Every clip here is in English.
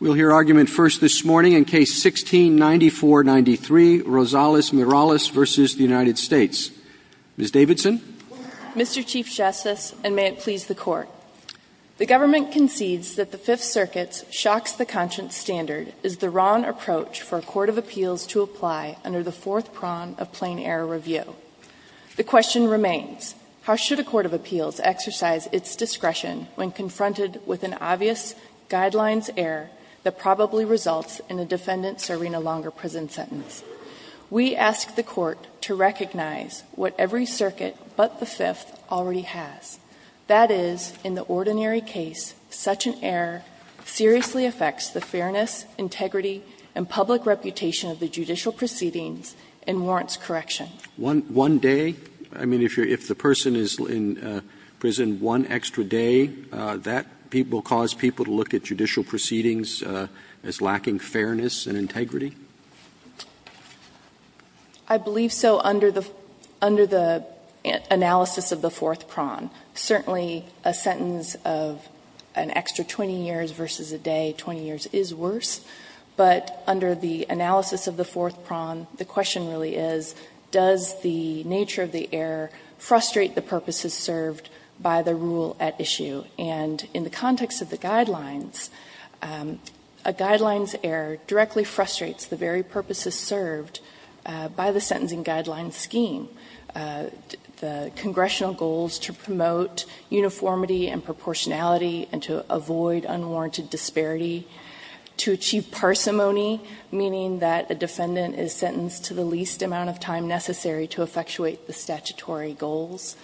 Mr. Chief Justice, and may it please the Court. The government concedes that the Fifth Circuit's shocks-the-conscience standard is the wrong approach for a Court of Appeals to apply under the fourth prong of plain-error review. The question remains, how should a Court of Appeals exercise its discretion when confronted with an obvious guidelines-error that probably results in a defendant serving a longer prison sentence? We ask the Court to recognize what every circuit but the Fifth already has. That is, in the ordinary case, such an error seriously affects the fairness, integrity, and public reputation of the judicial proceedings and warrants correction. Roberts. One day? I mean, if the person is in prison one extra day, that will cause people to look at judicial proceedings as lacking fairness and integrity? I believe so under the analysis of the fourth prong. Certainly, a sentence of an extra 20 years versus a day, 20 years is worse. But under the analysis of the fourth prong, the question really is, does the nature of the error frustrate the purposes served by the rule at issue? And in the context of the guidelines, a guidelines error directly frustrates the very purposes served by the sentencing guideline scheme, the congressional goals to promote uniformity and proportionality and to avoid unwarranted disparity, to achieve parsimony, meaning that a defendant is sentenced to the least amount of time necessary to effectuate the statutory goals,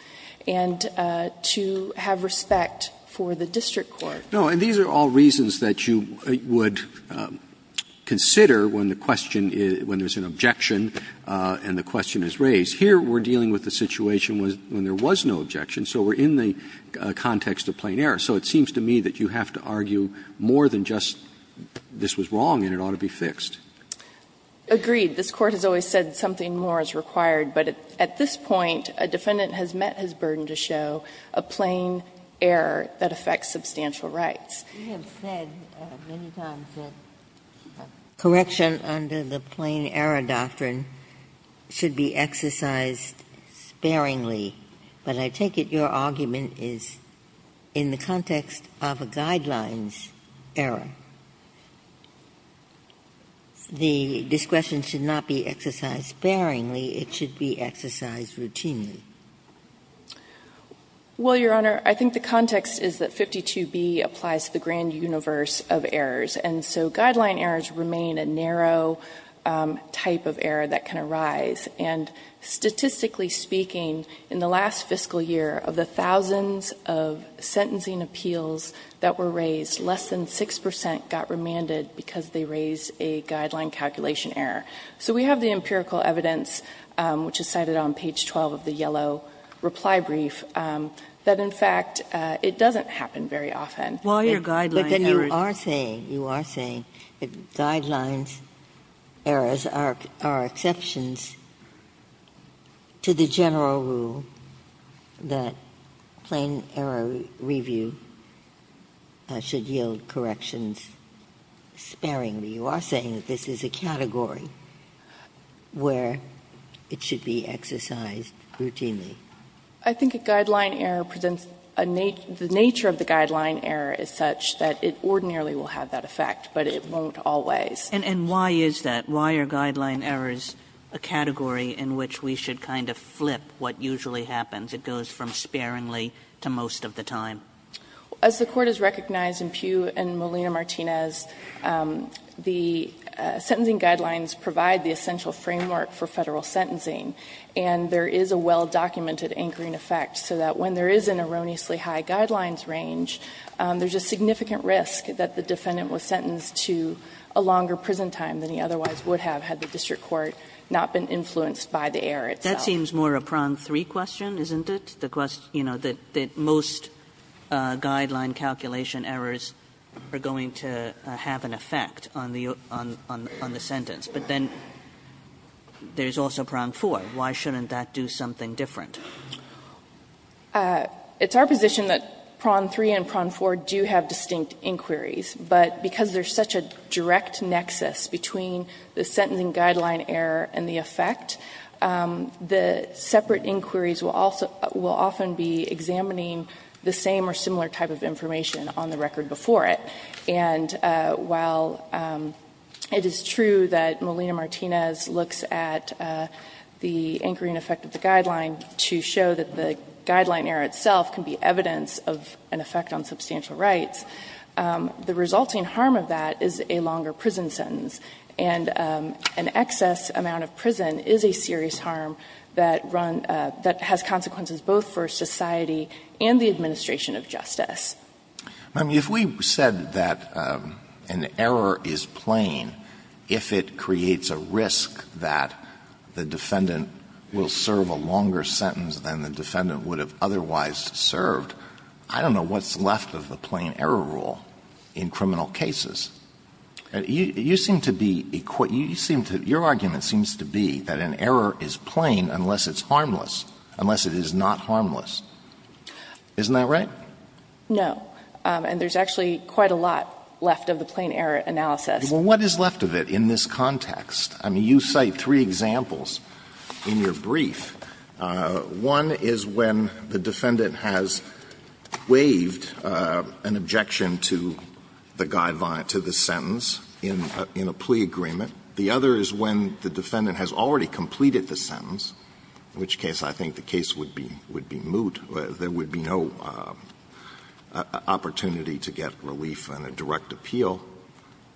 and to have respect for the district court. No. And these are all reasons that you would consider when the question is – when there is an objection and the question is raised. Here, we're dealing with a situation when there was no objection, so we're in the context of plain error. So it seems to me that you have to argue more than just this was wrong and it ought to be fixed. Agreed. This Court has always said something more is required. But at this point, a defendant has met his burden to show a plain error that affects substantial rights. We have said many times that correction under the plain error doctrine should be exercised sparingly, but I take it your argument is in the context of a guidelines error. The discretion should not be exercised sparingly. It should be exercised routinely. Well, Your Honor, I think the context is that 52b applies to the grand universe of errors, and so guideline errors remain a narrow type of error that can arise. And statistically speaking, in the last fiscal year, of the thousands of sentencing appeals that were raised, less than 6 percent got remanded because they raised a guideline calculation error. So we have the empirical evidence, which is cited on page 12 of the yellow reply brief, that in fact it doesn't happen very often. But then you are saying, you are saying that guidelines errors are exceptions to the general rule that plain error review should yield corrections sparingly. You are saying that this is a category where it should be exercised routinely. I think a guideline error presents a nature of the guideline error is such that it ordinarily will have that effect, but it won't always. And why is that? Why are guideline errors a category in which we should kind of flip what usually happens? It goes from sparingly to most of the time. As the Court has recognized in Pugh and Molina-Martinez, the sentencing guidelines provide the essential framework for Federal sentencing, and there is a well-documented anchoring effect so that when there is an erroneously high guidelines range, there is a significant risk that the defendant was sentenced to a longer prison time than he otherwise would have had the district court not been influenced by the error itself. Kagan That seems more a prong 3 question, isn't it? The question, you know, that most guideline calculation errors are going to have an effect on the sentence. But then there is also prong 4. Why shouldn't that do something different? It's our position that prong 3 and prong 4 do have distinct inquiries, but because there is such a direct nexus between the sentencing guideline error and the effect, the separate inquiries will often be examining the same or similar type of information on the record before it. And while it is true that Molina-Martinez looks at the anchoring effect of the guideline to show that the guideline error itself can be evidence of an effect on substantial rights, the resulting harm of that is a longer prison sentence, and an excess amount of prison is a serious harm that has consequences both for society and the administration of justice. Alito If we said that an error is plain if it creates a risk that the defendant will serve a longer sentence than the defendant would have otherwise served, I don't know what's left of the plain error rule in criminal cases. You seem to be equal. Your argument seems to be that an error is plain unless it's harmless, unless it is not harmless. Isn't that right? No. And there's actually quite a lot left of the plain error analysis. Alito What is left of it in this context? I mean, you cite three examples in your brief. One is when the defendant has waived an objection to the sentence in a plea agreement. The other is when the defendant has already completed the sentence, in which case I think the case would be moot. There would be no opportunity to get relief on a direct appeal.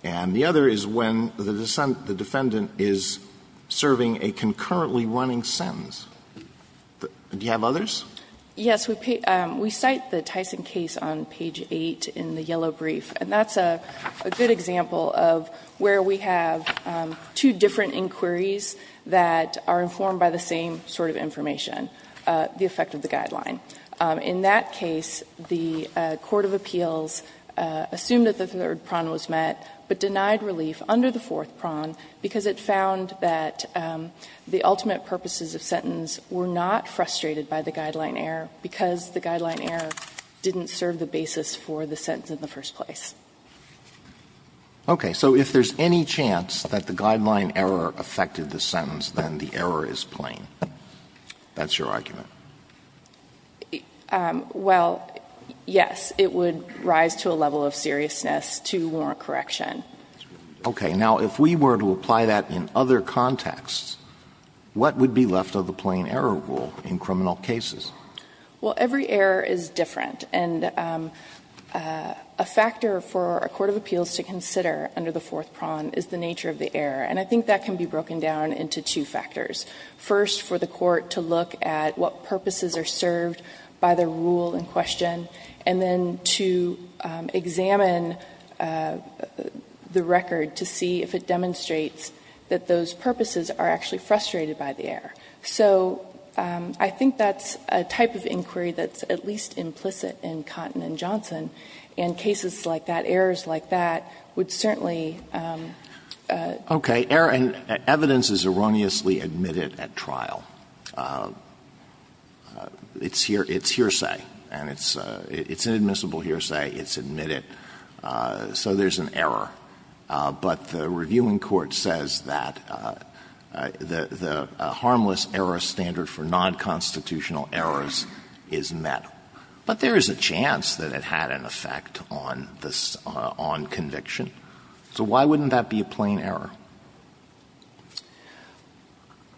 And the other is when the defendant is serving a concurrently running sentence. Do you have others? Yes. We cite the Tyson case on page 8 in the yellow brief, and that's a good example of where we have two different inquiries that are informed by the same sort of information, the effect of the guideline. In that case, the court of appeals assumed that the third prong was met, but denied relief under the fourth prong because it found that the ultimate purposes of sentence were not frustrated by the guideline error because the guideline error didn't serve the basis for the sentence in the first place. Okay. So if there's any chance that the guideline error affected the sentence, then the error is plain. That's your argument? Well, yes. It would rise to a level of seriousness to warrant correction. Okay. Now, if we were to apply that in other contexts, what would be left of the plain error rule in criminal cases? Well, every error is different. And a factor for a court of appeals to consider under the fourth prong is the nature of the error, and I think that can be broken down into two factors. First, for the court to look at what purposes are served by the rule in question, and then to examine the record to see if it demonstrates that those purposes are actually frustrated by the error. So I think that's a type of inquiry that's at least implicit in Cotton and Johnson, and cases like that, errors like that, would certainly. Okay. And evidence is erroneously admitted at trial. It's hearsay. And it's inadmissible hearsay. It's admitted. So there's an error. But the reviewing court says that the harmless error standard for nonconstitutional errors is met. But there is a chance that it had an effect on conviction. So why wouldn't that be a plain error?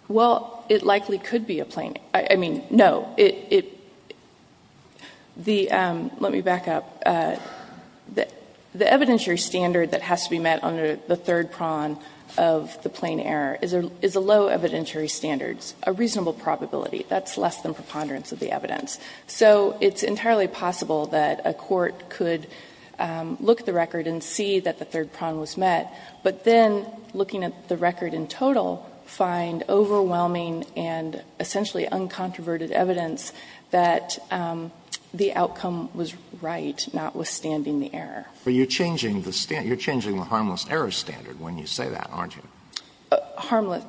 Well, it likely could be a plain error. I mean, no. Let me back up. The evidentiary standard that has to be met under the third prong of the plain error is a low evidentiary standard, a reasonable probability. That's less than preponderance of the evidence. So it's entirely possible that a court could look at the record and see that the third prong was met, but then looking at the record in total, find overwhelming and essentially uncontroverted evidence that the outcome was right, notwithstanding the error. But you're changing the harmless error standard when you say that, aren't you? Harmless.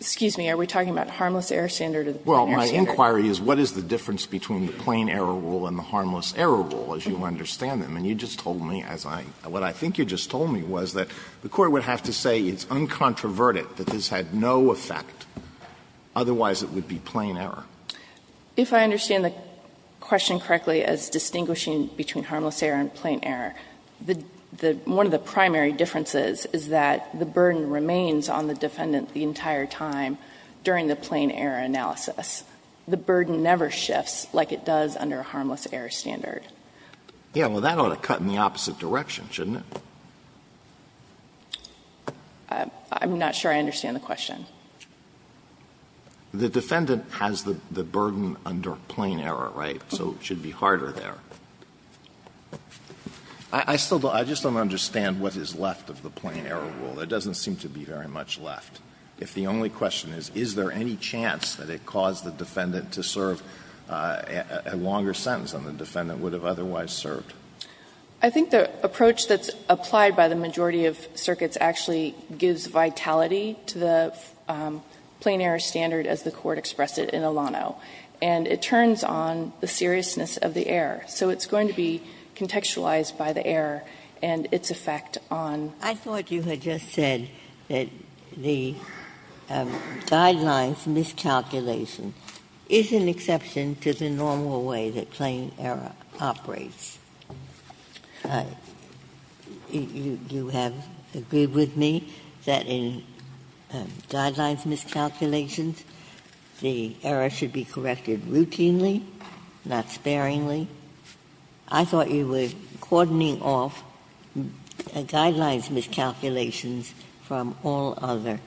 Excuse me. Are we talking about harmless error standard or the plain error standard? Well, my inquiry is what is the difference between the plain error rule and the harmless error rule, as you understand them. And you just told me, as I — what I think you just told me was that the court would have to say it's uncontroverted, that this had no effect. Otherwise, it would be plain error. If I understand the question correctly as distinguishing between harmless error and plain error, the — one of the primary differences is that the burden remains on the defendant the entire time during the plain error analysis. The burden never shifts like it does under a harmless error standard. Yeah. Well, that ought to cut in the opposite direction, shouldn't it? I'm not sure I understand the question. The defendant has the burden under plain error, right? So it should be harder there. I still don't — I just don't understand what is left of the plain error rule. There doesn't seem to be very much left. If the only question is, is there any chance that it caused the defendant to serve a longer sentence than the defendant would have otherwise served? I think the approach that's applied by the majority of circuits actually gives vitality to the plain error standard as the Court expressed it in Alano. And it turns on the seriousness of the error. So it's going to be contextualized by the error and its effect on. I thought you had just said that the guidelines miscalculation is an exception to the normal way that plain error operates. You have agreed with me that in guidelines miscalculations, the error should be corrected routinely, not sparingly. I thought you were cordoning off guidelines miscalculations from all other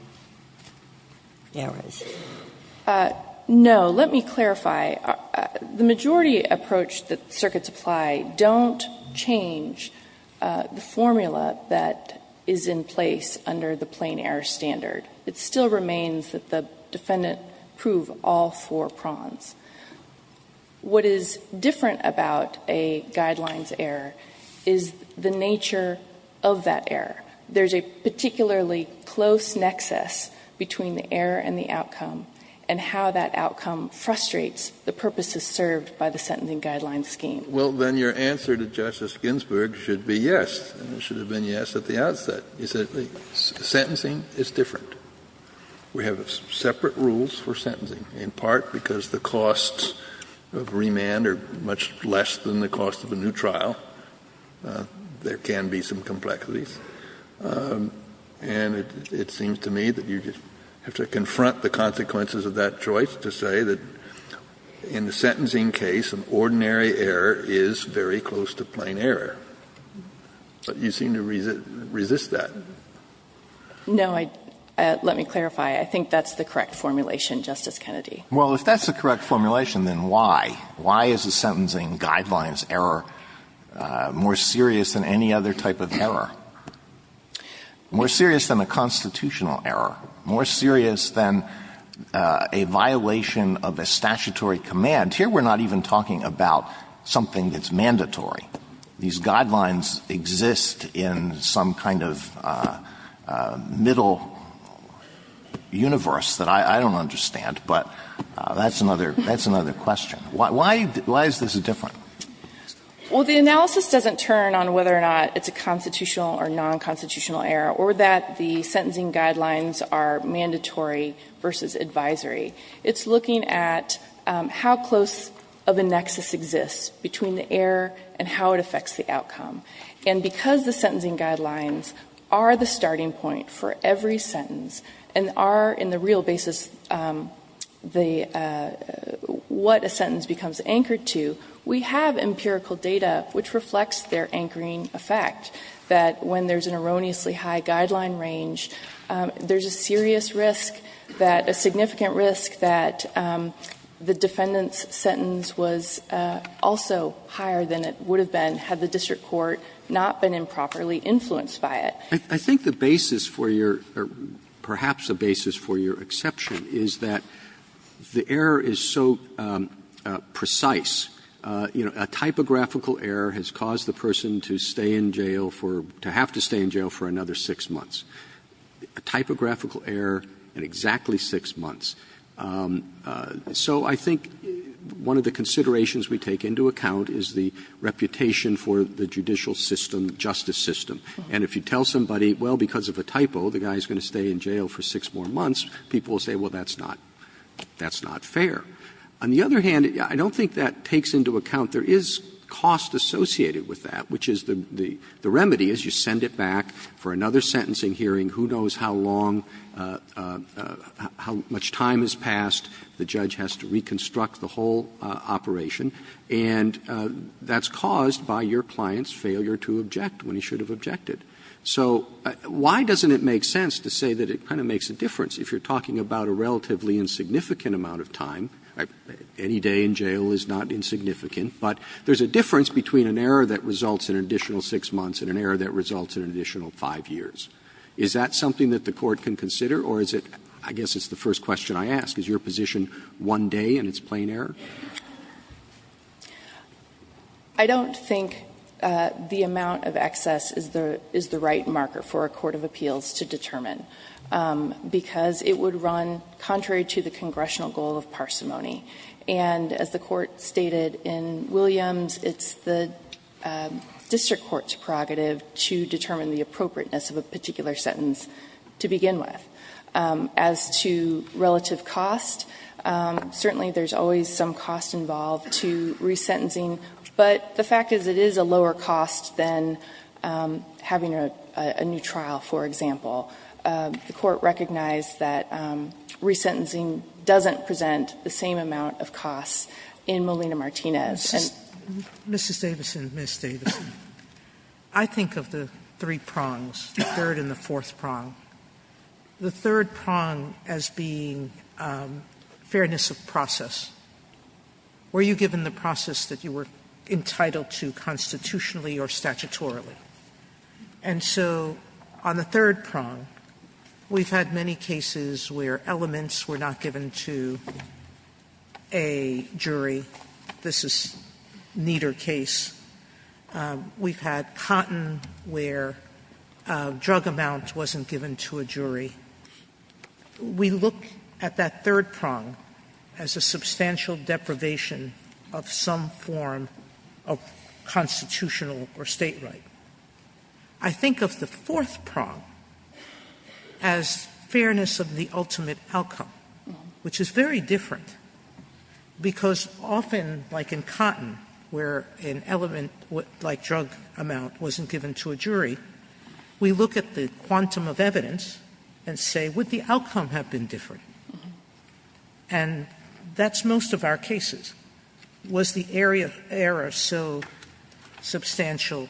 errors. No. Let me clarify. The majority approach that circuits apply don't change the formula that is in place under the plain error standard. It still remains that the defendant prove all four prongs. What is different about a guidelines error is the nature of that error. There is a particularly close nexus between the error and the outcome and how that outcome frustrates the purposes served by the sentencing guideline scheme. Well, then your answer to Justice Ginsburg should be yes. It should have been yes at the outset. Sentencing is different. We have separate rules for sentencing, in part because the costs of remand are much less than the cost of a new trial. There can be some complexities. And it seems to me that you just have to confront the consequences of that choice to say that in the sentencing case, an ordinary error is very close to plain error. But you seem to resist that. No. Let me clarify. I think that's the correct formulation, Justice Kennedy. Well, if that's the correct formulation, then why? Why is a sentencing guidelines error more serious than any other type of error, more serious than a constitutional error, more serious than a violation of a statutory command? Here we're not even talking about something that's mandatory. These guidelines exist in some kind of middle universe that I don't understand. But that's another question. Why is this different? Well, the analysis doesn't turn on whether or not it's a constitutional or nonconstitutional error or that the sentencing guidelines are mandatory versus advisory. It's looking at how close of a nexus exists between the error and how it affects the outcome. And because the sentencing guidelines are the starting point for every sentence and are in the real basis what a sentence becomes anchored to, we have empirical data which reflects their anchoring effect, that when there's an erroneously high guideline range, there's a serious risk that a significant risk that the defendant's sentence was also higher than it would have been had the district court not been properly influenced by it. I think the basis for your, or perhaps a basis for your exception, is that the error is so precise, you know, a typographical error has caused the person to stay in jail for, to have to stay in jail for another 6 months. A typographical error in exactly 6 months. So I think one of the considerations we take into account is the reputation for the judicial system, justice system. And if you tell somebody, well, because of a typo, the guy's going to stay in jail for 6 more months, people will say, well, that's not, that's not fair. On the other hand, I don't think that takes into account there is cost associated with that, which is the, the remedy is you send it back for another sentencing hearing, who knows how long, how much time has passed, the judge has to reconstruct the whole operation, and that's caused by your client's failure to object when he should have objected. So why doesn't it make sense to say that it kind of makes a difference if you're talking about a relatively insignificant amount of time? Any day in jail is not insignificant, but there's a difference between an error that results in an additional 6 months and an error that results in an additional 5 years. Is that something that the Court can consider, or is it, I guess it's the first question I ask, is your position one day, and it's plain error? O'Connell. I don't think the amount of excess is the, is the right marker for a court of appeals to determine, because it would run contrary to the congressional goal of parsimony. And as the Court stated in Williams, it's the district court's prerogative to determine the appropriateness of a particular sentence to begin with. As to relative cost, certainly there's always some cost involved to resentencing, but the fact is it is a lower cost than having a new trial, for example. The Court recognized that resentencing doesn't present the same amount of cost in Molina Martinez. Sotomayor, I think of the three prongs, the third and the fourth prong. The third prong as being fairness of process. Were you given the process that you were entitled to constitutionally or statutorily? And so on the third prong, we've had many cases where elements were not given to a jury. This is Nieder case. We've had Cotton where drug amount wasn't given to a jury. We look at that third prong as a substantial deprivation of some form of constitutional or state right. I think of the fourth prong as fairness of the ultimate outcome, which is very different, because often, like in Cotton, where an element like drug amount wasn't given to a jury, we look at the quantum of evidence and say, would the outcome have been different? And that's most of our cases. Was the error so substantial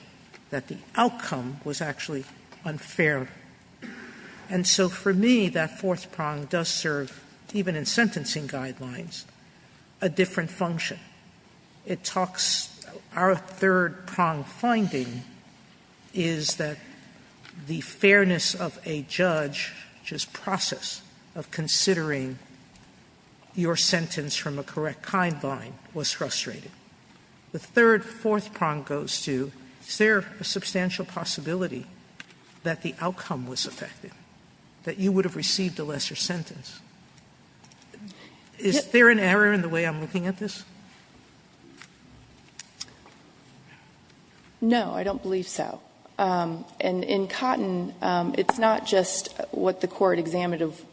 that the outcome was actually unfair? And so for me, that fourth prong does serve, even in sentencing guidelines, a different function. It talks to our third prong finding is that the fairness of a judge, which is process of considering your sentence from a correct kind line, was frustrating. The third, fourth prong goes to, is there a substantial possibility that the outcome was affected, that you would have received a lesser sentence? Is there an error in the way I'm looking at this? No, I don't believe so. And in Cotton, it's not just what the court examined of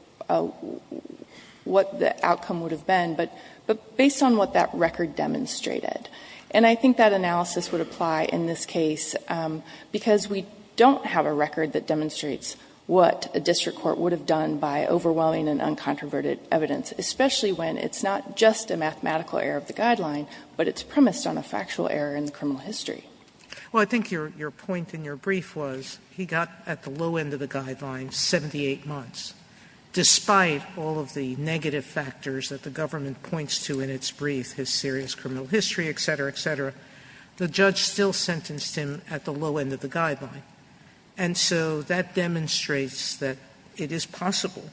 what the outcome would have been, but based on what that record demonstrated. And I think that analysis would apply in this case, because we don't have a record that demonstrates what a district court would have done by overwhelming and uncontroverted evidence, especially when it's not just a mathematical error of the guideline, but it's premised on a factual error in the criminal history. Sotomayor, I think your point in your brief was he got, at the low end of the guideline, 78 months. Despite all of the negative factors that the government points to in its brief, his serious criminal history, et cetera, et cetera, the judge still sentenced him at the low end of the guideline. And so, that demonstrates that it is possible,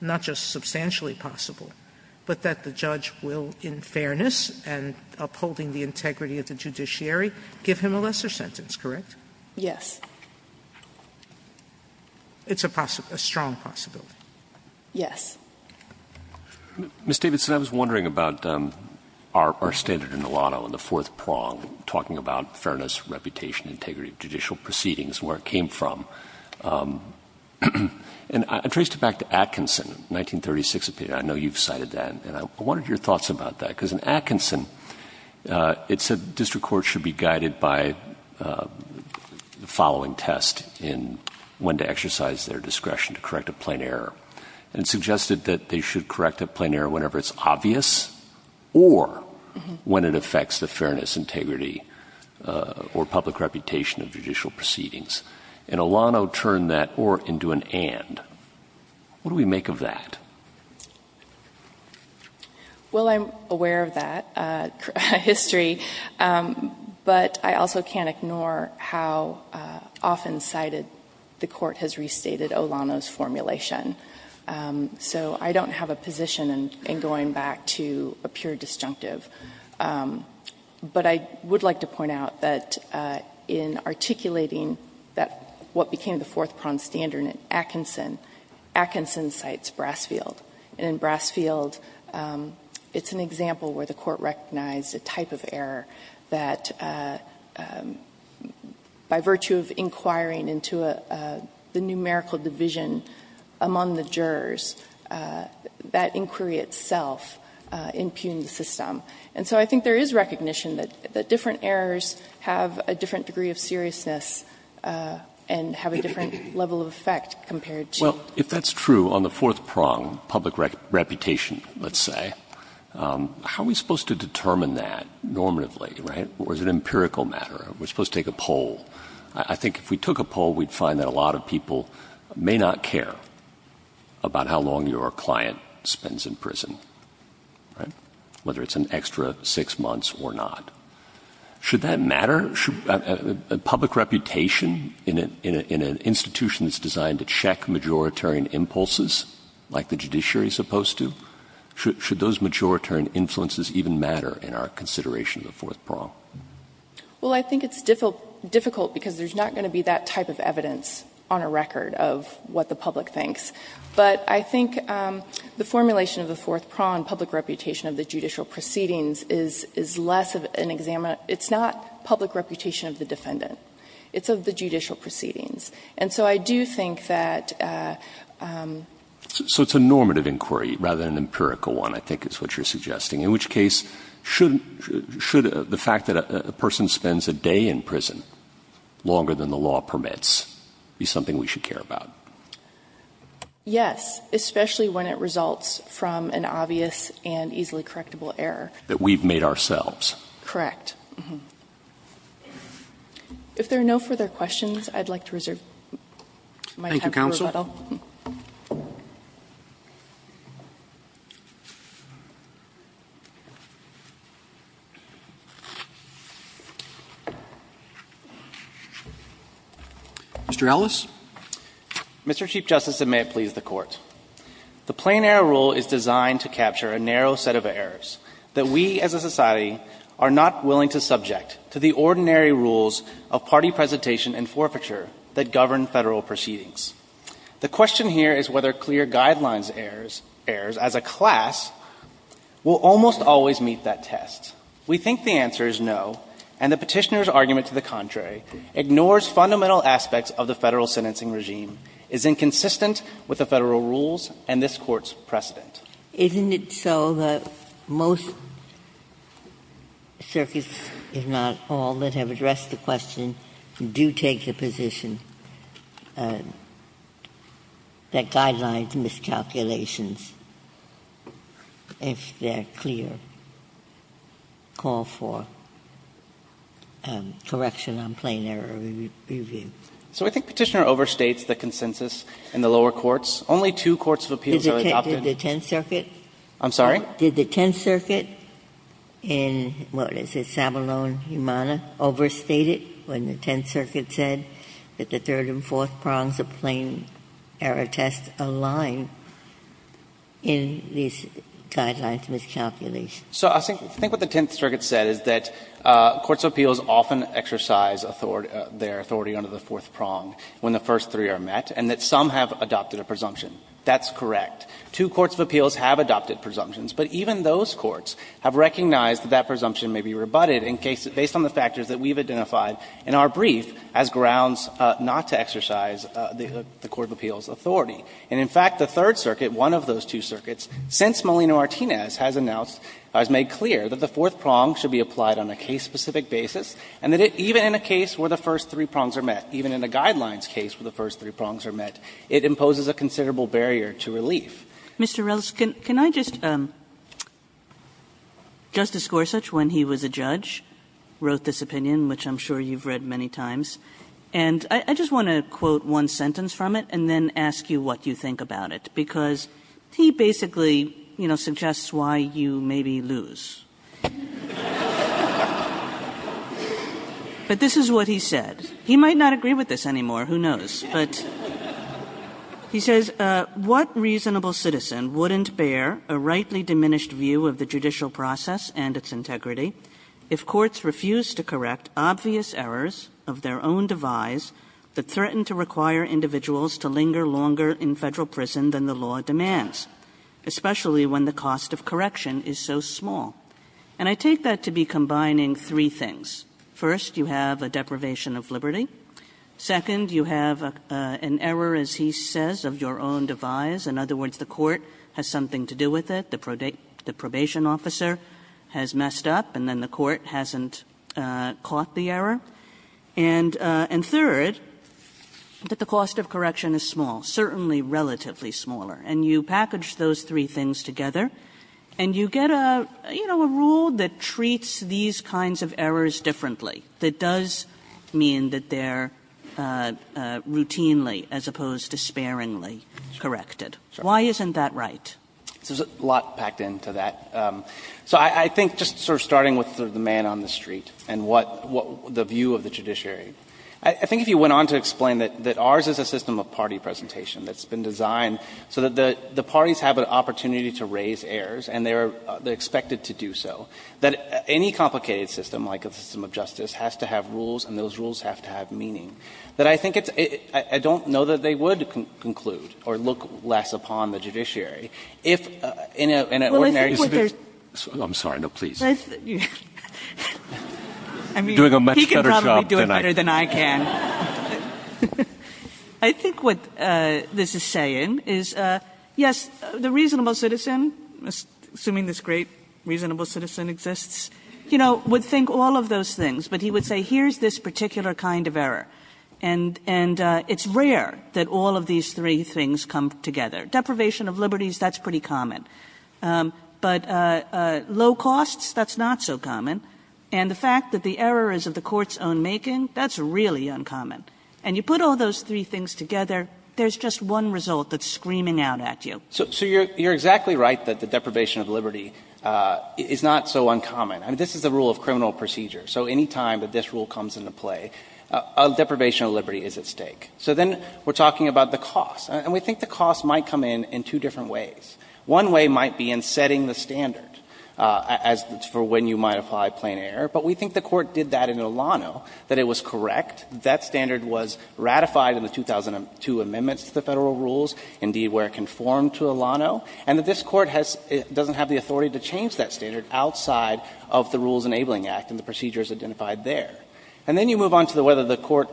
not just substantially possible, but that the judge will, in fairness and upholding the integrity of the judiciary, give him a lesser sentence, correct? Yes. It's a strong possibility. Yes. Ms. Davidson, I was wondering about our standard in the lotto in the fourth prong, talking about fairness, reputation, integrity of judicial proceedings, where it came from. And I traced it back to Atkinson, 1936, I know you've cited that. And I wondered your thoughts about that, because in Atkinson, it said district courts should be guided by the following test in when to exercise their discretion to correct a plain error. And it suggested that they should correct a plain error whenever it's obvious or when it affects the fairness, integrity, or public reputation of judicial proceedings. And Olano turned that or into an and. What do we make of that? Well, I'm aware of that history. But I also can't ignore how often cited the Court has restated Olano's formulation. So I don't have a position in going back to a pure disjunctive. But I would like to point out that in articulating that what became the fourth prong standard in Atkinson, Atkinson cites Brassfield. And in Brassfield, it's an example where the Court recognized a type of error that, by virtue of inquiring into the numerical division among the jurors, that inquiry itself impugned the system. And so I think there is recognition that different errors have a different degree of seriousness and have a different level of effect compared to. Well, if that's true on the fourth prong, public reputation, let's say, how are we to determine that normatively, right? Or is it an empirical matter? We're supposed to take a poll. I think if we took a poll, we'd find that a lot of people may not care about how long your client spends in prison, right, whether it's an extra six months or not. Should that matter? Public reputation in an institution that's designed to check majoritarian impulses, like the judiciary is supposed to, should those majoritarian influences even matter in our consideration of the fourth prong? Well, I think it's difficult because there's not going to be that type of evidence on a record of what the public thinks. But I think the formulation of the fourth prong, public reputation of the judicial proceedings, is less of an examiner. It's not public reputation of the defendant. It's of the judicial proceedings. And so I do think that the judicial proceedings is less of an examiner. So it's a normative inquiry rather than an empirical one, I think, is what you're suggesting. In which case, should the fact that a person spends a day in prison longer than the law permits be something we should care about? Yes, especially when it results from an obvious and easily correctable error. That we've made ourselves. Correct. If there are no further questions, I'd like to reserve my time for rebuttal. Thank you, counsel. Mr. Ellis. Mr. Chief Justice, and may it please the Court. The Plain Error Rule is designed to capture a narrow set of errors that we as a society are not willing to subject to the ordinary rules of party presentation and forfeiture that govern Federal proceedings. The question here is whether clear guidelines errors as a class will almost always meet that test. We think the answer is no, and the Petitioner's argument to the contrary ignores fundamental aspects of the Federal sentencing regime, is inconsistent with the Federal rules and this Court's precedent. Isn't it so that most circuits, if not all, that have addressed the question do take the position that guidelines miscalculations, if they're clear, call for correction on plain error review? So I think Petitioner overstates the consensus in the lower courts. Only two courts of appeals are adopted. Did the Tenth Circuit? I'm sorry? Did the Tenth Circuit in, what is it, Sabalone-Humana, overstate it when the Tenth Circuit said that the third and fourth prongs of plain error test align in these guidelines miscalculations? So I think what the Tenth Circuit said is that courts of appeals often exercise their authority under the fourth prong when the first three are met, and that some have adopted a presumption. That's correct. Two courts of appeals have adopted presumptions, but even those courts have recognized that that presumption may be rebutted in case, based on the factors that we've identified in our brief as grounds not to exercise the court of appeals authority. And in fact, the Third Circuit, one of those two circuits, since Molino-Martinez has announced, has made clear that the fourth prong should be applied on a case-specific basis, and that even in a case where the first three prongs are met, even in a guidelines case where the first three prongs are met, it imposes a considerable barrier to relief. Kagan Mr. Riles, can I just – Justice Gorsuch, when he was a judge, wrote this opinion, which I'm sure you've read many times, and I just want to quote one sentence from it and then ask you what you think about it, because he basically, you know, suggests why you maybe lose. But this is what he said. He might not agree with this anymore, who knows. But he says, What reasonable citizen wouldn't bear a rightly diminished view of the judicial process and its integrity if courts refused to correct obvious errors of their own devise that threaten to require individuals to linger longer in Federal prison than the law demands, especially when the cost of correction is so small? And I take that to be combining three things. First, you have a deprivation of liberty. Second, you have an error, as he says, of your own devise. In other words, the court has something to do with it. The probation officer has messed up, and then the court hasn't caught the error. And third, that the cost of correction is small, certainly relatively smaller. And you package those three things together, and you get a, you know, a rule that does mean that they're routinely, as opposed to sparingly, corrected. Why isn't that right? So there's a lot packed into that. So I think just sort of starting with the man on the street and what the view of the judiciary, I think if you went on to explain that ours is a system of party presentation that's been designed so that the parties have an opportunity to raise errors, and they're expected to do so, that any complicated system, like a system of judicial justice, has to have rules, and those rules have to have meaning, that I think it's — I don't know that they would conclude or look less upon the judiciary if, in an ordinary — Kagan. I'm sorry. No, please. You're doing a much better job than I can. I think what this is saying is, yes, the reasonable citizen, assuming this great But he would say, here's this particular kind of error, and it's rare that all of these three things come together. Deprivation of liberties, that's pretty common. But low costs, that's not so common. And the fact that the error is of the court's own making, that's really uncommon. And you put all those three things together, there's just one result that's screaming out at you. So you're exactly right that the deprivation of liberty is not so uncommon. I mean, this is the rule of criminal procedure. So any time that this rule comes into play, deprivation of liberty is at stake. So then we're talking about the cost. And we think the cost might come in in two different ways. One way might be in setting the standard as — for when you might apply plain error. But we think the Court did that in Olano, that it was correct, that standard was ratified in the 2002 amendments to the Federal rules, indeed where it conformed to Olano, and that this Court has — doesn't have the authority to change that standard outside of the Rules Enabling Act and the procedures identified there. And then you move on to whether the Court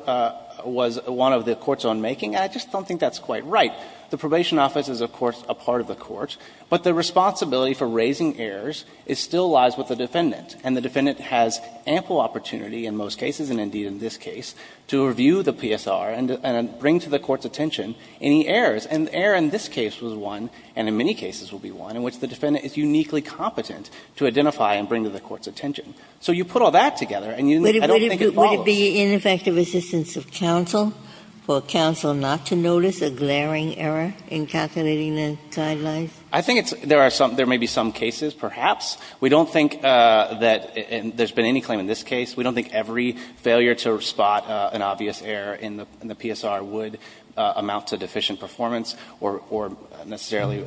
was one of the courts on making. And I just don't think that's quite right. The probation office is, of course, a part of the Court. But the responsibility for raising errors still lies with the defendant. And the defendant has ample opportunity in most cases, and indeed in this case, to review the PSR and bring to the Court's attention any errors. And the error in this case was one, and in many cases will be one, in which the defendant is uniquely competent to identify and bring to the Court's attention. So you put all that together, and I don't think it follows. Ginsburg. Would it be ineffective assistance of counsel for counsel not to notice a glaring error in calculating the guidelines? I think it's — there are some — there may be some cases, perhaps. We don't think that — and there's been any claim in this case. We don't think every failure to spot an obvious error in the PSR would amount to deficient performance or necessarily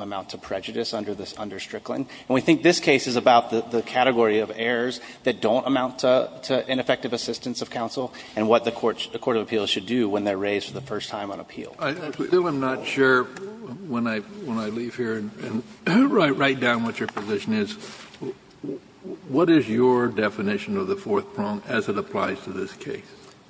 amount to prejudice under this — under Strickland. And we think this case is about the category of errors that don't amount to ineffective assistance of counsel and what the Court of Appeals should do when they're raised for the first time on appeal. I still am not sure, when I leave here, and write down what your position is, what is your definition of the fourth prong as it applies to this case?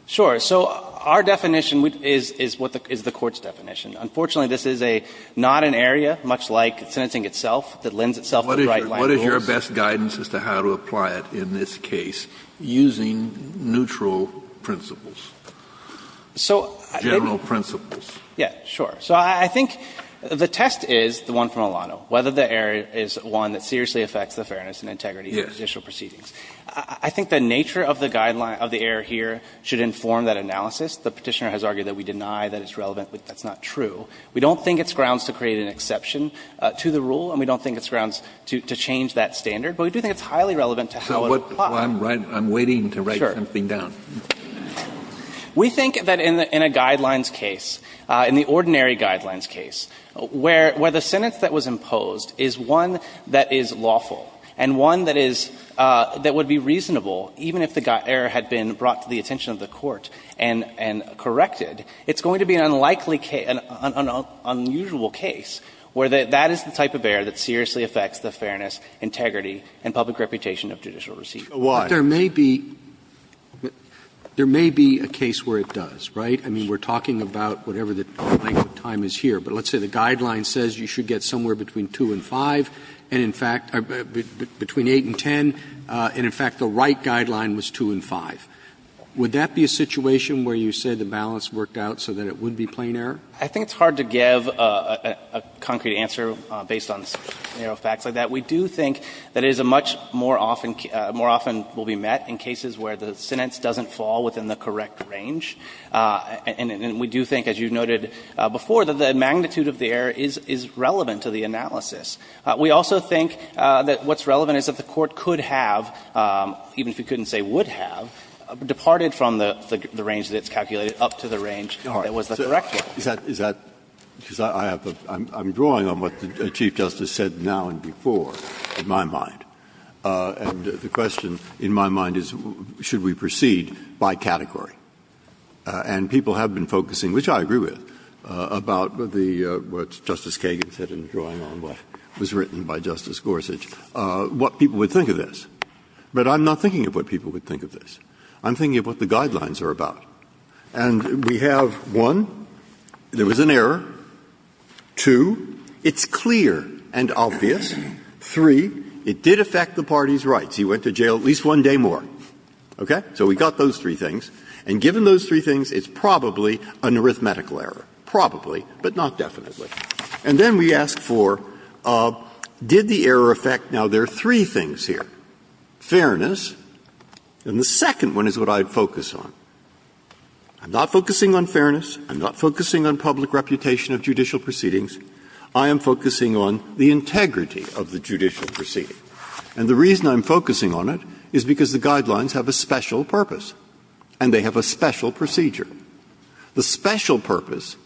Sure. So our definition is — is what the — is the Court's definition. Unfortunately, this is a — not an area, much like sentencing itself, that lends itself to bright-lined rules. What is your best guidance as to how to apply it in this case using neutral principles? General principles. Yeah. Sure. So I think the test is the one from Alano, whether the error is one that seriously affects the fairness and integrity of judicial proceedings. I think the nature of the guideline — of the error here should inform that analysis. The Petitioner has argued that we deny that it's relevant, but that's not true. We don't think it's grounds to create an exception to the rule, and we don't think it's grounds to change that standard. But we do think it's highly relevant to how it applies. So what — I'm waiting to write something down. Sure. We think that in a guidelines case, in the ordinary guidelines case, where the sentence that was imposed is one that is lawful and one that is — that would be reasonable, even if the error had been brought to the attention of the court and corrected, it's going to be an unlikely — an unusual case where that is the type of error that seriously affects the fairness, integrity, and public reputation of judicial proceedings. But there may be — there may be a case where it does, right? I mean, we're talking about whatever the length of time is here, but let's say the guideline says you should get somewhere between 2 and 5, and in fact — between 8 and 10, and in fact the right guideline was 2 and 5. Would that be a situation where you said the balance worked out so that it would be plain error? I think it's hard to give a concrete answer based on, you know, facts like that. We do think that it is a much more often — more often will be met in cases where the sentence doesn't fall within the correct range, and we do think, as you noted before, that the magnitude of the error is — is relevant to the analysis. We also think that what's relevant is that the court could have, even if we couldn't say would have, departed from the range that it's calculated up to the range that was the correct one. Breyer, is that — is that — because I have a — I'm drawing on what the Chief Justice said now and before, in my mind, and the question in my mind is, should we proceed by category? And people have been focusing, which I agree with, about the — what Justice Kagan said in drawing on what was written by Justice Gorsuch, what people would think of this. But I'm not thinking of what people would think of this. I'm thinking of what the guidelines are about. And we have, one, there was an error. Two, it's clear and obvious. Three, it did affect the party's rights. He went to jail at least one day more. Okay? So we got those three things. And given those three things, it's probably an arithmetical error. Probably, but not definitely. And then we ask for, did the error affect — now, there are three things here. Fairness, and the second one is what I'd focus on. I'm not focusing on fairness. I'm not focusing on public reputation of judicial proceedings. I am focusing on the integrity of the judicial proceeding. And the reason I'm focusing on it is because the guidelines have a special purpose, and they have a special procedure. The special purpose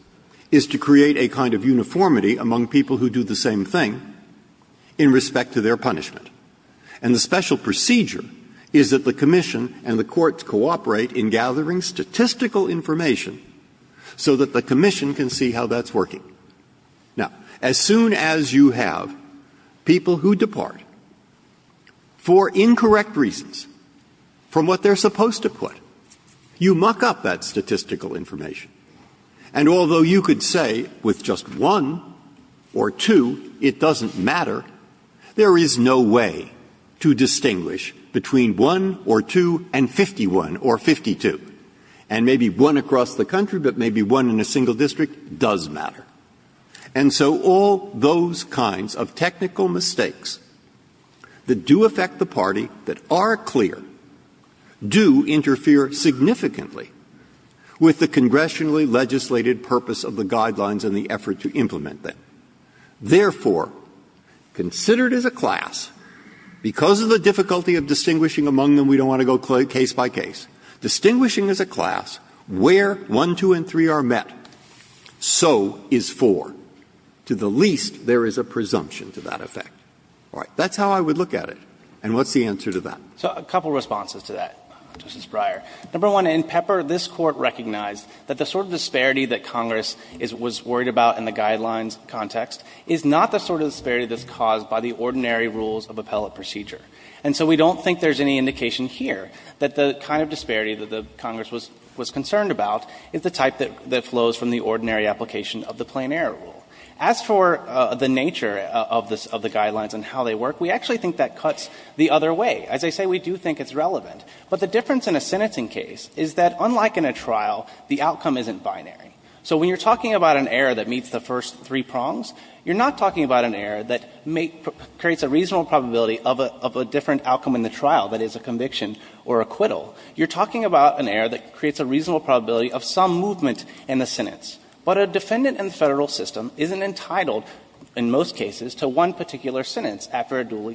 is to create a kind of uniformity among people who do the same thing in respect to their punishment. And the special procedure is that the commission and the courts cooperate in gathering statistical information so that the commission can see how that's working. Now, as soon as you have people who depart for incorrect reasons from what they're supposed to put, you muck up that statistical information. And although you could say with just one or two, it doesn't matter, there is no way to distinguish between one or two and 51 or 52. And maybe one across the country, but maybe one in a single district does matter. And so all those kinds of technical mistakes that do affect the party, that are clear, do interfere significantly with the congressionally legislated purpose of the guidelines and the effort to implement them. Therefore, considered as a class, because of the difficulty of distinguishing among them, we don't want to go case by case, distinguishing as a class where one, two, or three is four. To the least, there is a presumption to that effect. All right. That's how I would look at it. And what's the answer to that? So a couple of responses to that, Justice Breyer. Number one, in Pepper, this Court recognized that the sort of disparity that Congress is was worried about in the guidelines context is not the sort of disparity that's caused by the ordinary rules of appellate procedure. And so we don't think there's any indication here that the kind of disparity that the Congress was concerned about is the type that flows from the ordinary application of the plain error rule. As for the nature of the guidelines and how they work, we actually think that cuts the other way. As I say, we do think it's relevant. But the difference in a sentencing case is that, unlike in a trial, the outcome isn't binary. So when you're talking about an error that meets the first three prongs, you're not talking about an error that creates a reasonable probability of a different outcome in the trial, that is, a conviction or acquittal. You're talking about an error that creates a reasonable probability of some movement in the sentence. But a defendant in the Federal system isn't entitled, in most cases, to one particular sentence after a duly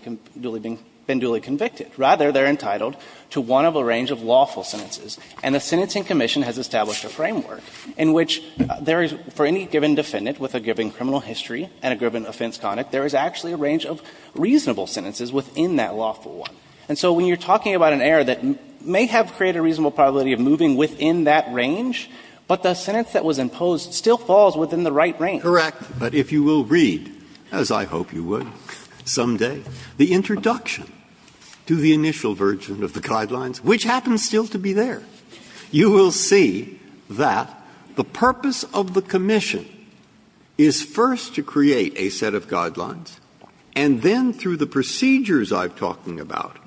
been duly convicted. Rather, they're entitled to one of a range of lawful sentences. And the Sentencing Commission has established a framework in which there is, for any given defendant with a given criminal history and a given offense conduct, there is actually a range of reasonable sentences within that lawful one. And so when you're talking about an error that may have created a reasonable probability of moving within that range, but the sentence that was imposed still falls within the right range. BREYER. Correct. But if you will read, as I hope you would someday, the introduction to the initial version of the Guidelines, which happens still to be there, you will see that the purpose of the Commission is first to create a set of Guidelines, and then through the procedures I'm talking about,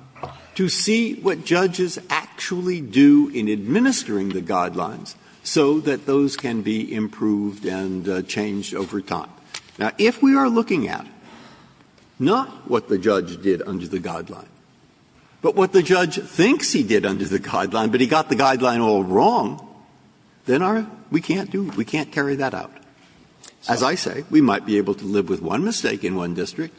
to see what judges actually do in administering the Guidelines so that those can be improved and changed over time. Now, if we are looking at not what the judge did under the Guideline, but what the judge thinks he did under the Guideline, but he got the Guideline all wrong, then our we can't do, we can't carry that out. As I say, we might be able to live with one mistake in one district,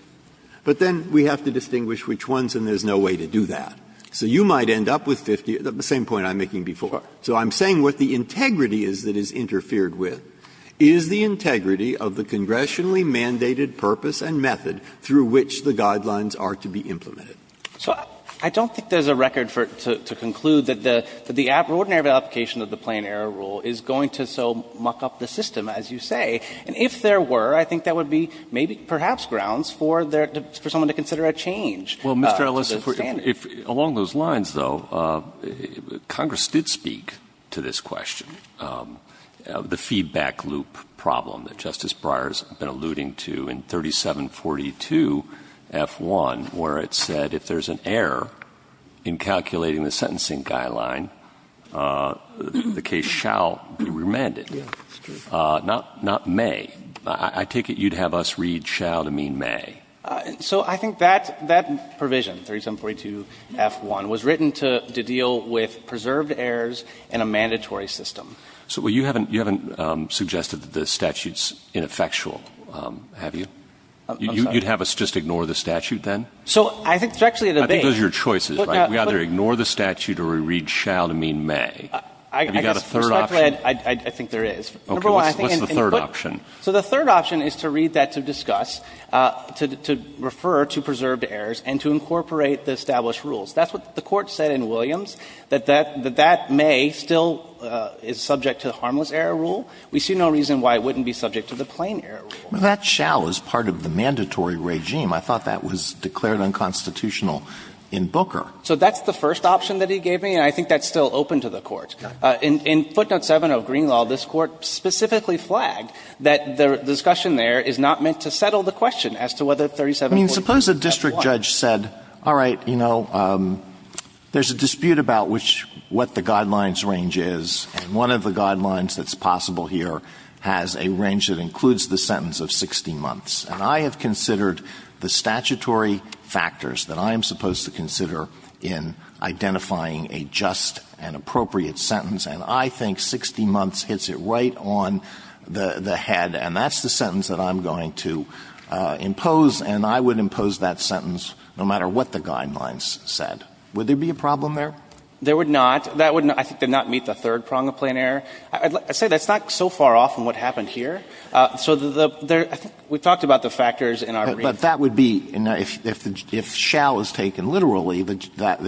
but then we have to distinguish which ones and there's no way to do that. So you might end up with 50, the same point I'm making before. So I'm saying what the integrity is that is interfered with is the integrity of the congressionally mandated purpose and method through which the Guidelines are to be implemented. So I don't think there's a record for it to conclude that the ordinary application of the Plain Error Rule is going to so muck up the system, as you say. And if there were, I think that would be maybe perhaps grounds for someone to consider a change to the standards. Well, Mr. Elissa, if along those lines, though, Congress did speak to this question. The feedback loop problem that Justice Breyer has been alluding to in 3742 F1, where it said if there's an error in calculating the sentencing guideline, the case shall be remanded. Yes, that's true. Not may. I take it you'd have us read shall to mean may. So I think that provision, 3742 F1, was written to deal with preserved errors in a mandatory system. So you haven't suggested that the statute's ineffectual, have you? You'd have us just ignore the statute then? So I think there's actually a debate. I think those are your choices, right? We either ignore the statute or we read shall to mean may. Have you got a third option? I think there is. Number one, I think in putting So the third option is to read that to discuss, to refer to preserved errors, and to incorporate the established rules. That's what the Court said in Williams, that that may still is subject to the Harmless Error Rule. We see no reason why it wouldn't be subject to the Plain Error Rule. That shall is part of the mandatory regime. I thought that was declared unconstitutional in Booker. So that's the first option that he gave me, and I think that's still open to the Court. In footnote 7 of Greenlaw, this Court specifically flagged that the discussion there is not meant to settle the question as to whether 3742 F1. I mean, suppose a district judge said, all right, you know, there's a dispute about what the guidelines range is, and one of the guidelines that's possible here has a range that includes the sentence of 60 months. And I have considered the statutory factors that I am supposed to consider in identifying a just and appropriate sentence, and I think 60 months hits it right on the head. And that's the sentence that I'm going to impose, and I would impose that sentence no matter what the guidelines said. Would there be a problem there? There would not. That would not meet the third prong of plain error. I'd say that's not so far off from what happened here. So the – I think we talked about the factors in our brief. But that would be – if shall is taken literally, that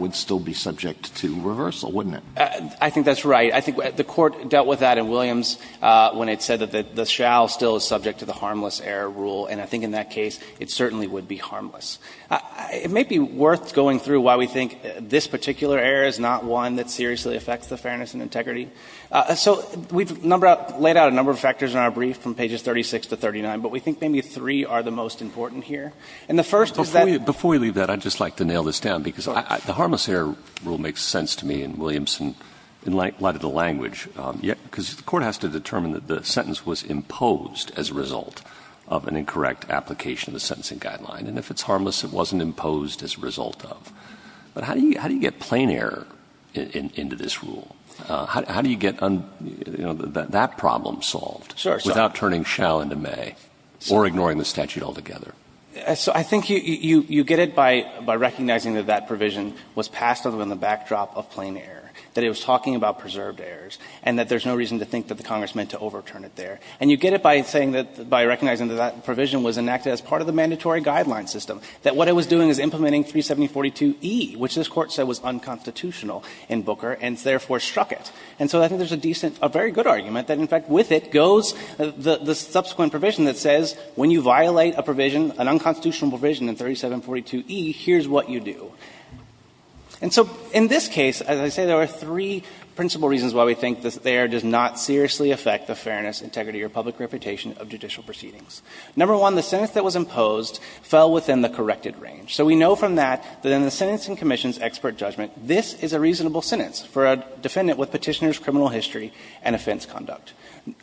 would still be subject to reversal, wouldn't it? I think that's right. I think the Court dealt with that in Williams when it said that the shall still is subject to the harmless error rule, and I think in that case it certainly would be harmless. It may be worth going through why we think this particular error is not one that seriously affects the fairness and integrity. So we've numbered out – laid out a number of factors in our brief from pages 36 to 39, but we think maybe three are the most important here. And the first is that – Before you leave that, I'd just like to nail this down, because the harmless error rule makes sense to me in Williamson in light of the language, because the Court has to determine that the sentence was imposed as a result of an incorrect application of the sentencing guideline, and if it's harmless, it wasn't imposed as a result of. But how do you get plain error into this rule? How do you get, you know, that problem solved without turning shall into may, or ignoring the statute altogether? So I think you get it by recognizing that that provision was passed under the backdrop of plain error, that it was talking about preserved errors, and that there's no reason to think that the Congress meant to overturn it there. And you get it by saying that – by recognizing that that provision was enacted as part of the mandatory guideline system, that what it was doing was implementing 370.42e, which this Court said was unconstitutional in Booker and therefore struck it. And so I think there's a decent – a very good argument that, in fact, with it goes the subsequent provision that says when you violate a provision, an unconstitutional provision in 370.42e, here's what you do. And so in this case, as I say, there are three principal reasons why we think that there does not seriously affect the fairness, integrity, or public reputation of judicial proceedings. Number one, the sentence that was imposed fell within the corrected range. So we know from that that in the Sentencing Commission's expert judgment, this is a reasonable sentence for a defendant with Petitioner's criminal history and offense conduct,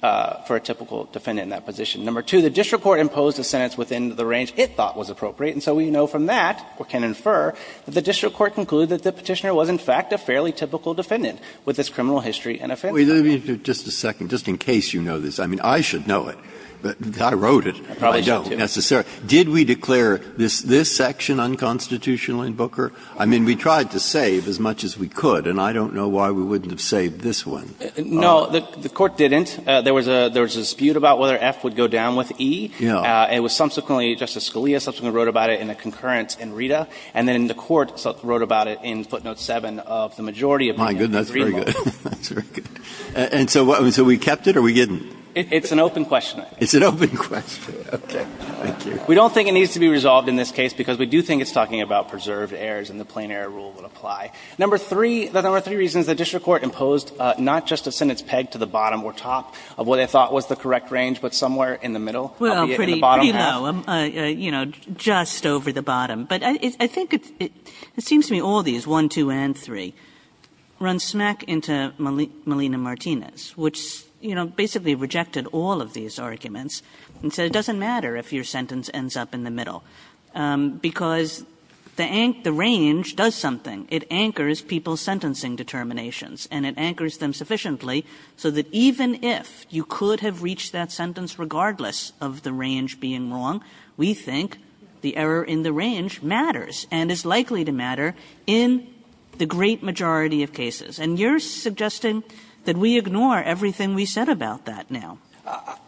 for a typical defendant in that position. Number two, the district court imposed a sentence within the range it thought was appropriate. And so we know from that, or can infer, that the district court concluded that the Petitioner was, in fact, a fairly typical defendant with his criminal history and offense conduct. Breyer, just a second. Just in case you know this, I mean, I should know it. I wrote it. I don't necessarily. Did we declare this section unconstitutional in Booker? I mean, we tried to save as much as we could, and I don't know why we wouldn't have saved this one. No, the Court didn't. There was a dispute about whether F would go down with E. It was subsequently, Justice Scalia subsequently wrote about it in a concurrence in Rita. And then the Court wrote about it in footnote 7 of the majority opinion. My goodness, that's very good. That's very good. And so we kept it or we didn't? It's an open question. It's an open question. Okay. Thank you. We don't think it needs to be resolved in this case because we do think it's talking about preserved errors and the plain error rule would apply. Number three, there were three reasons the district court imposed not just a sentence pegged to the bottom or top of what they thought was the correct range, but somewhere in the middle, albeit in the bottom half. Well, pretty low, you know, just over the bottom. But I think it seems to me all these, 1, 2, and 3, run smack into Malina Martinez, which, you know, basically rejected all of these arguments and said it doesn't matter if your sentence ends up in the middle, because the range does something. It anchors people's sentencing determinations and it anchors them sufficiently so that even if you could have reached that sentence regardless of the range being wrong, we think the error in the range matters and is likely to matter in the great majority of cases. And you're suggesting that we ignore everything we said about that now.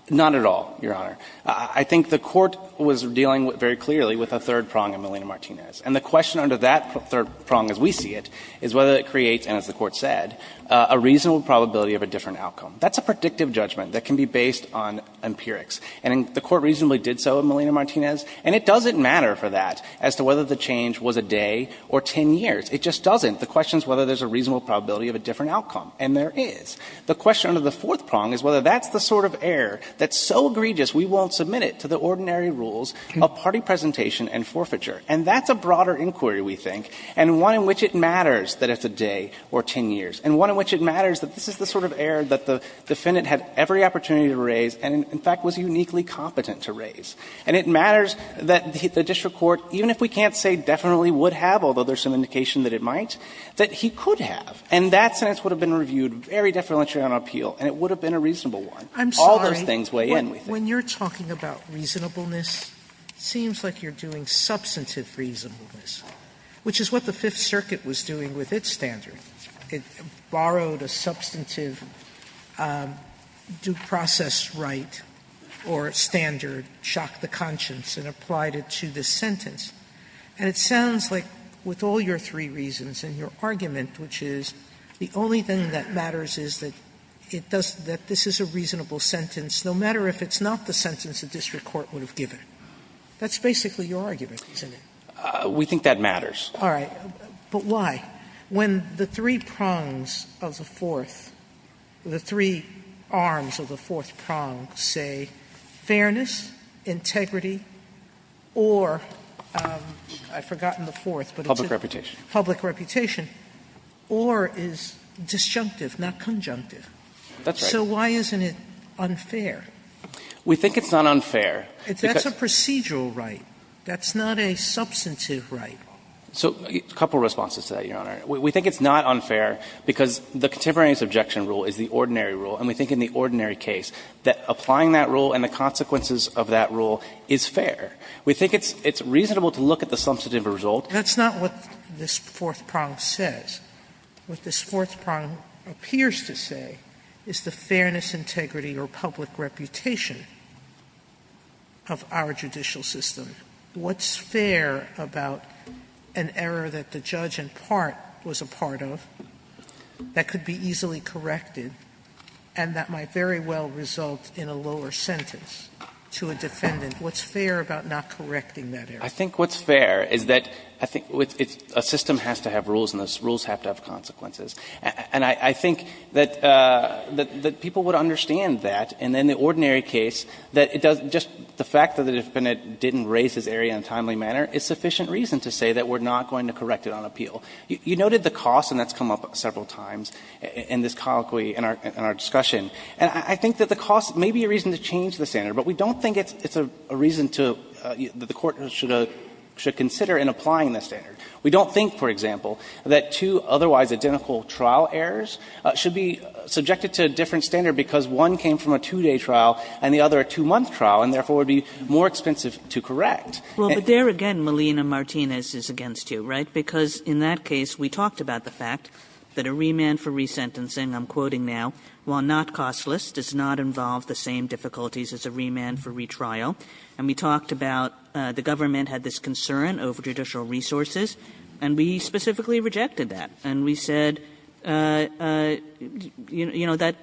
Not at all, Your Honor. I think the court was dealing very clearly with a third prong of Malina Martinez. And the question under that third prong as we see it is whether it creates, and as the Court said, a reasonable probability of a different outcome. That's a predictive judgment that can be based on empirics. And the Court reasonably did so in Malina Martinez. And it doesn't matter for that as to whether the change was a day or 10 years. It just doesn't. The question is whether there's a reasonable probability of a different outcome. And there is. The question under the fourth prong is whether that's the sort of error that's so egregious we won't submit it to the ordinary rules of party presentation and forfeiture. And that's a broader inquiry, we think, and one in which it matters that it's a day or 10 years, and one in which it matters that this is the sort of error that the defendant had every opportunity to raise and, in fact, was uniquely competent to raise. And it matters that the district court, even if we can't say definitely would have, although there's some indication that it might, that he could have. And that sentence would have been reviewed very deferentially on appeal, and it would have been a reasonable one. All those things weigh in, we think. Sotomayor, when you're talking about reasonableness, it seems like you're doing substantive reasonableness, which is what the Fifth Circuit was doing with its standard. It borrowed a substantive due process right or standard, shocked the conscience, and applied it to this sentence. And it sounds like with all your three reasons and your argument, which is the only thing that matters is that it does – that this is a reasonable sentence, no matter if it's not the sentence the district court would have given. That's basically your argument, isn't it? We think that matters. All right. But why? When the three prongs of the fourth, the three arms of the fourth prong say fairness, integrity, or – I've forgotten the fourth, but it's a – Public reputation. Public reputation, or is disjunctive, not conjunctive. That's right. So why isn't it unfair? We think it's not unfair. That's a procedural right. That's not a substantive right. So a couple of responses to that, Your Honor. We think it's not unfair because the contemporary subjection rule is the ordinary case, that applying that rule and the consequences of that rule is fair. We think it's reasonable to look at the substantive result. That's not what this fourth prong says. What this fourth prong appears to say is the fairness, integrity, or public reputation of our judicial system. What's fair about an error that the judge in part was a part of that could be easily corrected and that might very well result in a lower sentence to a defendant? What's fair about not correcting that error? I think what's fair is that I think a system has to have rules and those rules have to have consequences. And I think that people would understand that. And in the ordinary case, that it does – just the fact that the defendant didn't raise his error in a timely manner is sufficient reason to say that we're not going to correct it on appeal. You noted the cost, and that's come up several times in this colloquy, in our discussion. And I think that the cost may be a reason to change the standard, but we don't think it's a reason to – that the Court should consider in applying this standard. We don't think, for example, that two otherwise identical trial errors should be subjected to a different standard because one came from a two-day trial and the other a two-month trial, and therefore would be more expensive to correct. But there again, Melina-Martinez is against you, right? Because in that case, we talked about the fact that a remand for resentencing, I'm quoting now, while not costless, does not involve the same difficulties as a remand for retrial. And we talked about, the government had this concern over judicial resources, and we specifically rejected that, and we said, you know, that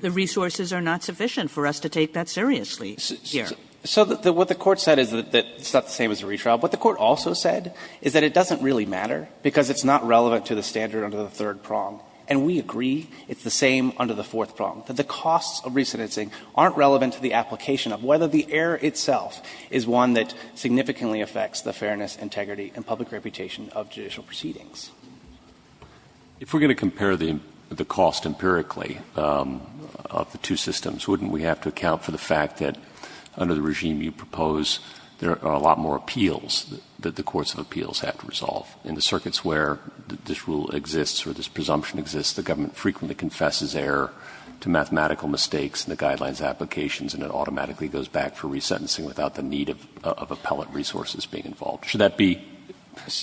the resources are not sufficient for us to take that seriously here. So what the court said is that it's not the same as a retrial. What the court also said is that it doesn't really matter, because it's not relevant to the standard under the third prong. And we agree it's the same under the fourth prong, that the costs of resentencing aren't relevant to the application of whether the error itself is one that significantly affects the fairness, integrity, and public reputation of judicial proceedings. If we're going to compare the cost empirically of the two systems, wouldn't we have to account for the fact that under the regime you propose, there are a lot more appeals that the courts of appeals have to resolve? In the circuits where this rule exists or this presumption exists, the government frequently confesses error to mathematical mistakes in the guidelines applications, and it automatically goes back for resentencing without the need of appellate resources being involved. Should that be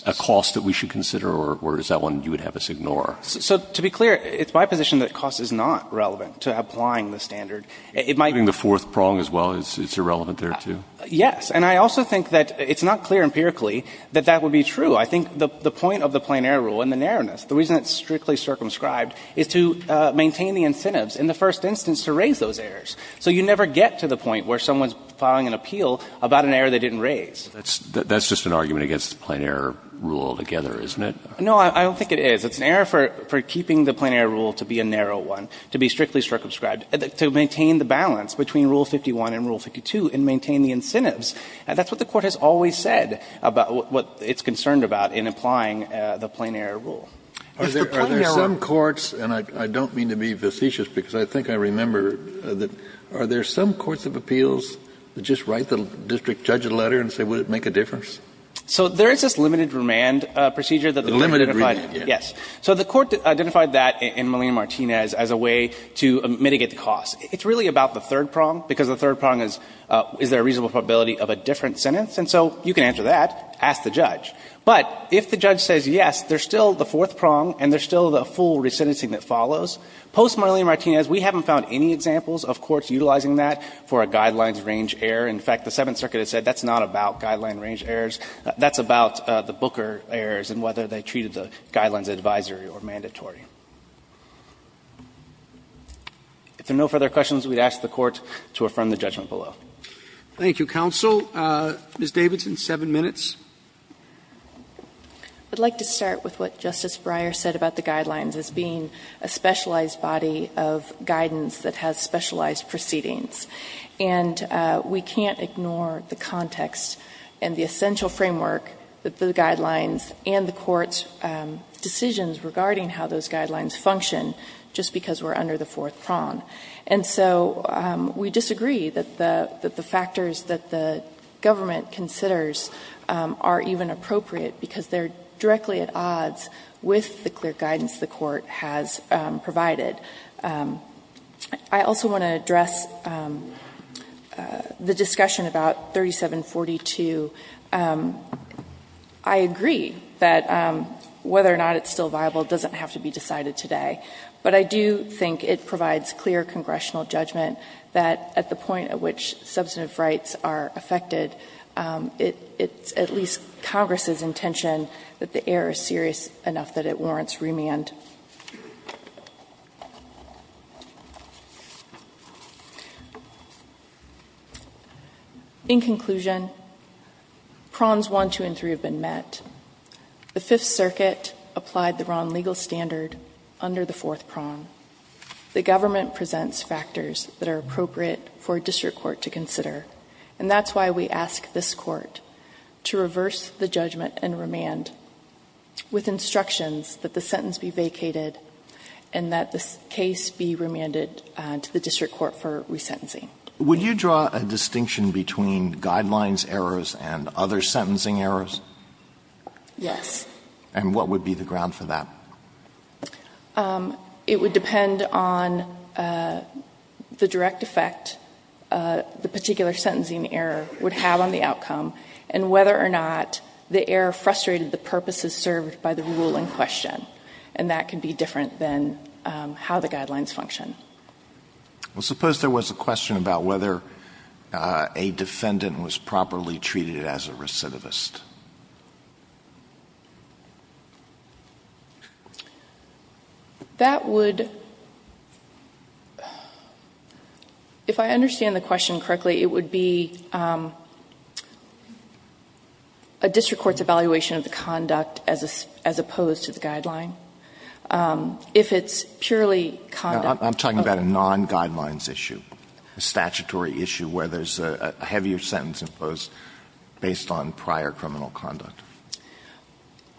a cost that we should consider, or is that one you would have us ignore? So to be clear, it's my position that cost is not relevant to applying the standard. It might be the fourth prong as well, it's irrelevant there, too? Yes. And I also think that it's not clear empirically that that would be true. I think the point of the plain error rule and the narrowness, the reason it's strictly circumscribed, is to maintain the incentives in the first instance to raise those errors. So you never get to the point where someone's filing an appeal about an error they didn't raise. That's just an argument against the plain error rule altogether, isn't it? No, I don't think it is. It's an error for keeping the plain error rule to be a narrow one, to be strictly circumscribed, to maintain the balance between Rule 51 and Rule 52 and maintain the incentives. And that's what the Court has always said about what it's concerned about in applying the plain error rule. If the plain error rule was a narrow one, it would be a narrow one, but it's a narrow one. Kennedy, are there some courts, and I don't mean to be facetious, because I think I remember that, are there some courts of appeals that just write the district judge a letter and say, would it make a difference? So there is this limited remand procedure that the Court identified. Limited remand, yes. So the Court identified that in Molina-Martinez as a way to mitigate the cost. It's really about the third prong, because the third prong is, is there a reasonable probability of a different sentence? And so you can answer that, ask the judge. But if the judge says yes, there's still the fourth prong and there's still the full resentencing that follows. Post-Molina-Martinez, we haven't found any examples of courts utilizing that for a guidelines range error. In fact, the Seventh Circuit has said that's not about guideline range errors. That's about the Booker errors and whether they treated the guidelines advisory or mandatory. If there are no further questions, we would ask the Court to affirm the judgment below. Roberts. Thank you, counsel. Ms. Davidson, seven minutes. I would like to start with what Justice Breyer said about the guidelines as being a specialized body of guidance that has specialized proceedings. And we can't ignore the context and the essential framework that the guidelines and the court's decisions regarding how those guidelines function just because we're under the fourth prong. And so we disagree that the factors that the government considers are even appropriate because they're directly at odds with the clear guidance the court has provided. I also want to address the discussion about 3742. I agree that whether or not it's still viable doesn't have to be decided today. But I do think it provides clear congressional judgment that at the point at which substantive rights are affected, it's at least Congress's intention that the error is serious enough that it warrants remand. In conclusion, prongs one, two, and three have been met. The Fifth Circuit applied the wrong legal standard under the fourth prong. The government presents factors that are appropriate for a district court to consider. And that's why we ask this Court to reverse the judgment and remand with instructions that the sentence be vacated and that the case be remanded to the district court for resentencing. Would you draw a distinction between guidelines errors and other sentencing errors? Yes. And what would be the ground for that? It would depend on the direct effect the particular sentencing error would have on the And that can be different than how the guidelines function. Well, suppose there was a question about whether a defendant was properly treated as a recidivist. That would, if I understand the question correctly, it would be a district court's conduct as opposed to the guideline. If it's purely conduct. I'm talking about a non-guidelines issue, a statutory issue where there's a heavier sentence imposed based on prior criminal conduct.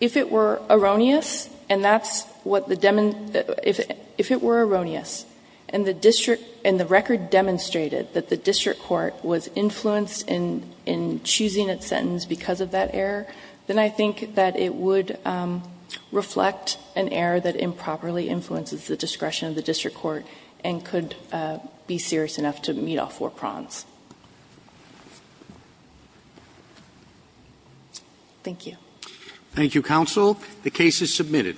If it were erroneous, and that's what the — if it were erroneous, and the district — and the record demonstrated that the district court was influenced in choosing its sentence because of that error, then I think that it would reflect an error that improperly influences the discretion of the district court and could be serious enough to meet all four prongs. Thank you. Thank you, counsel. The case is submitted.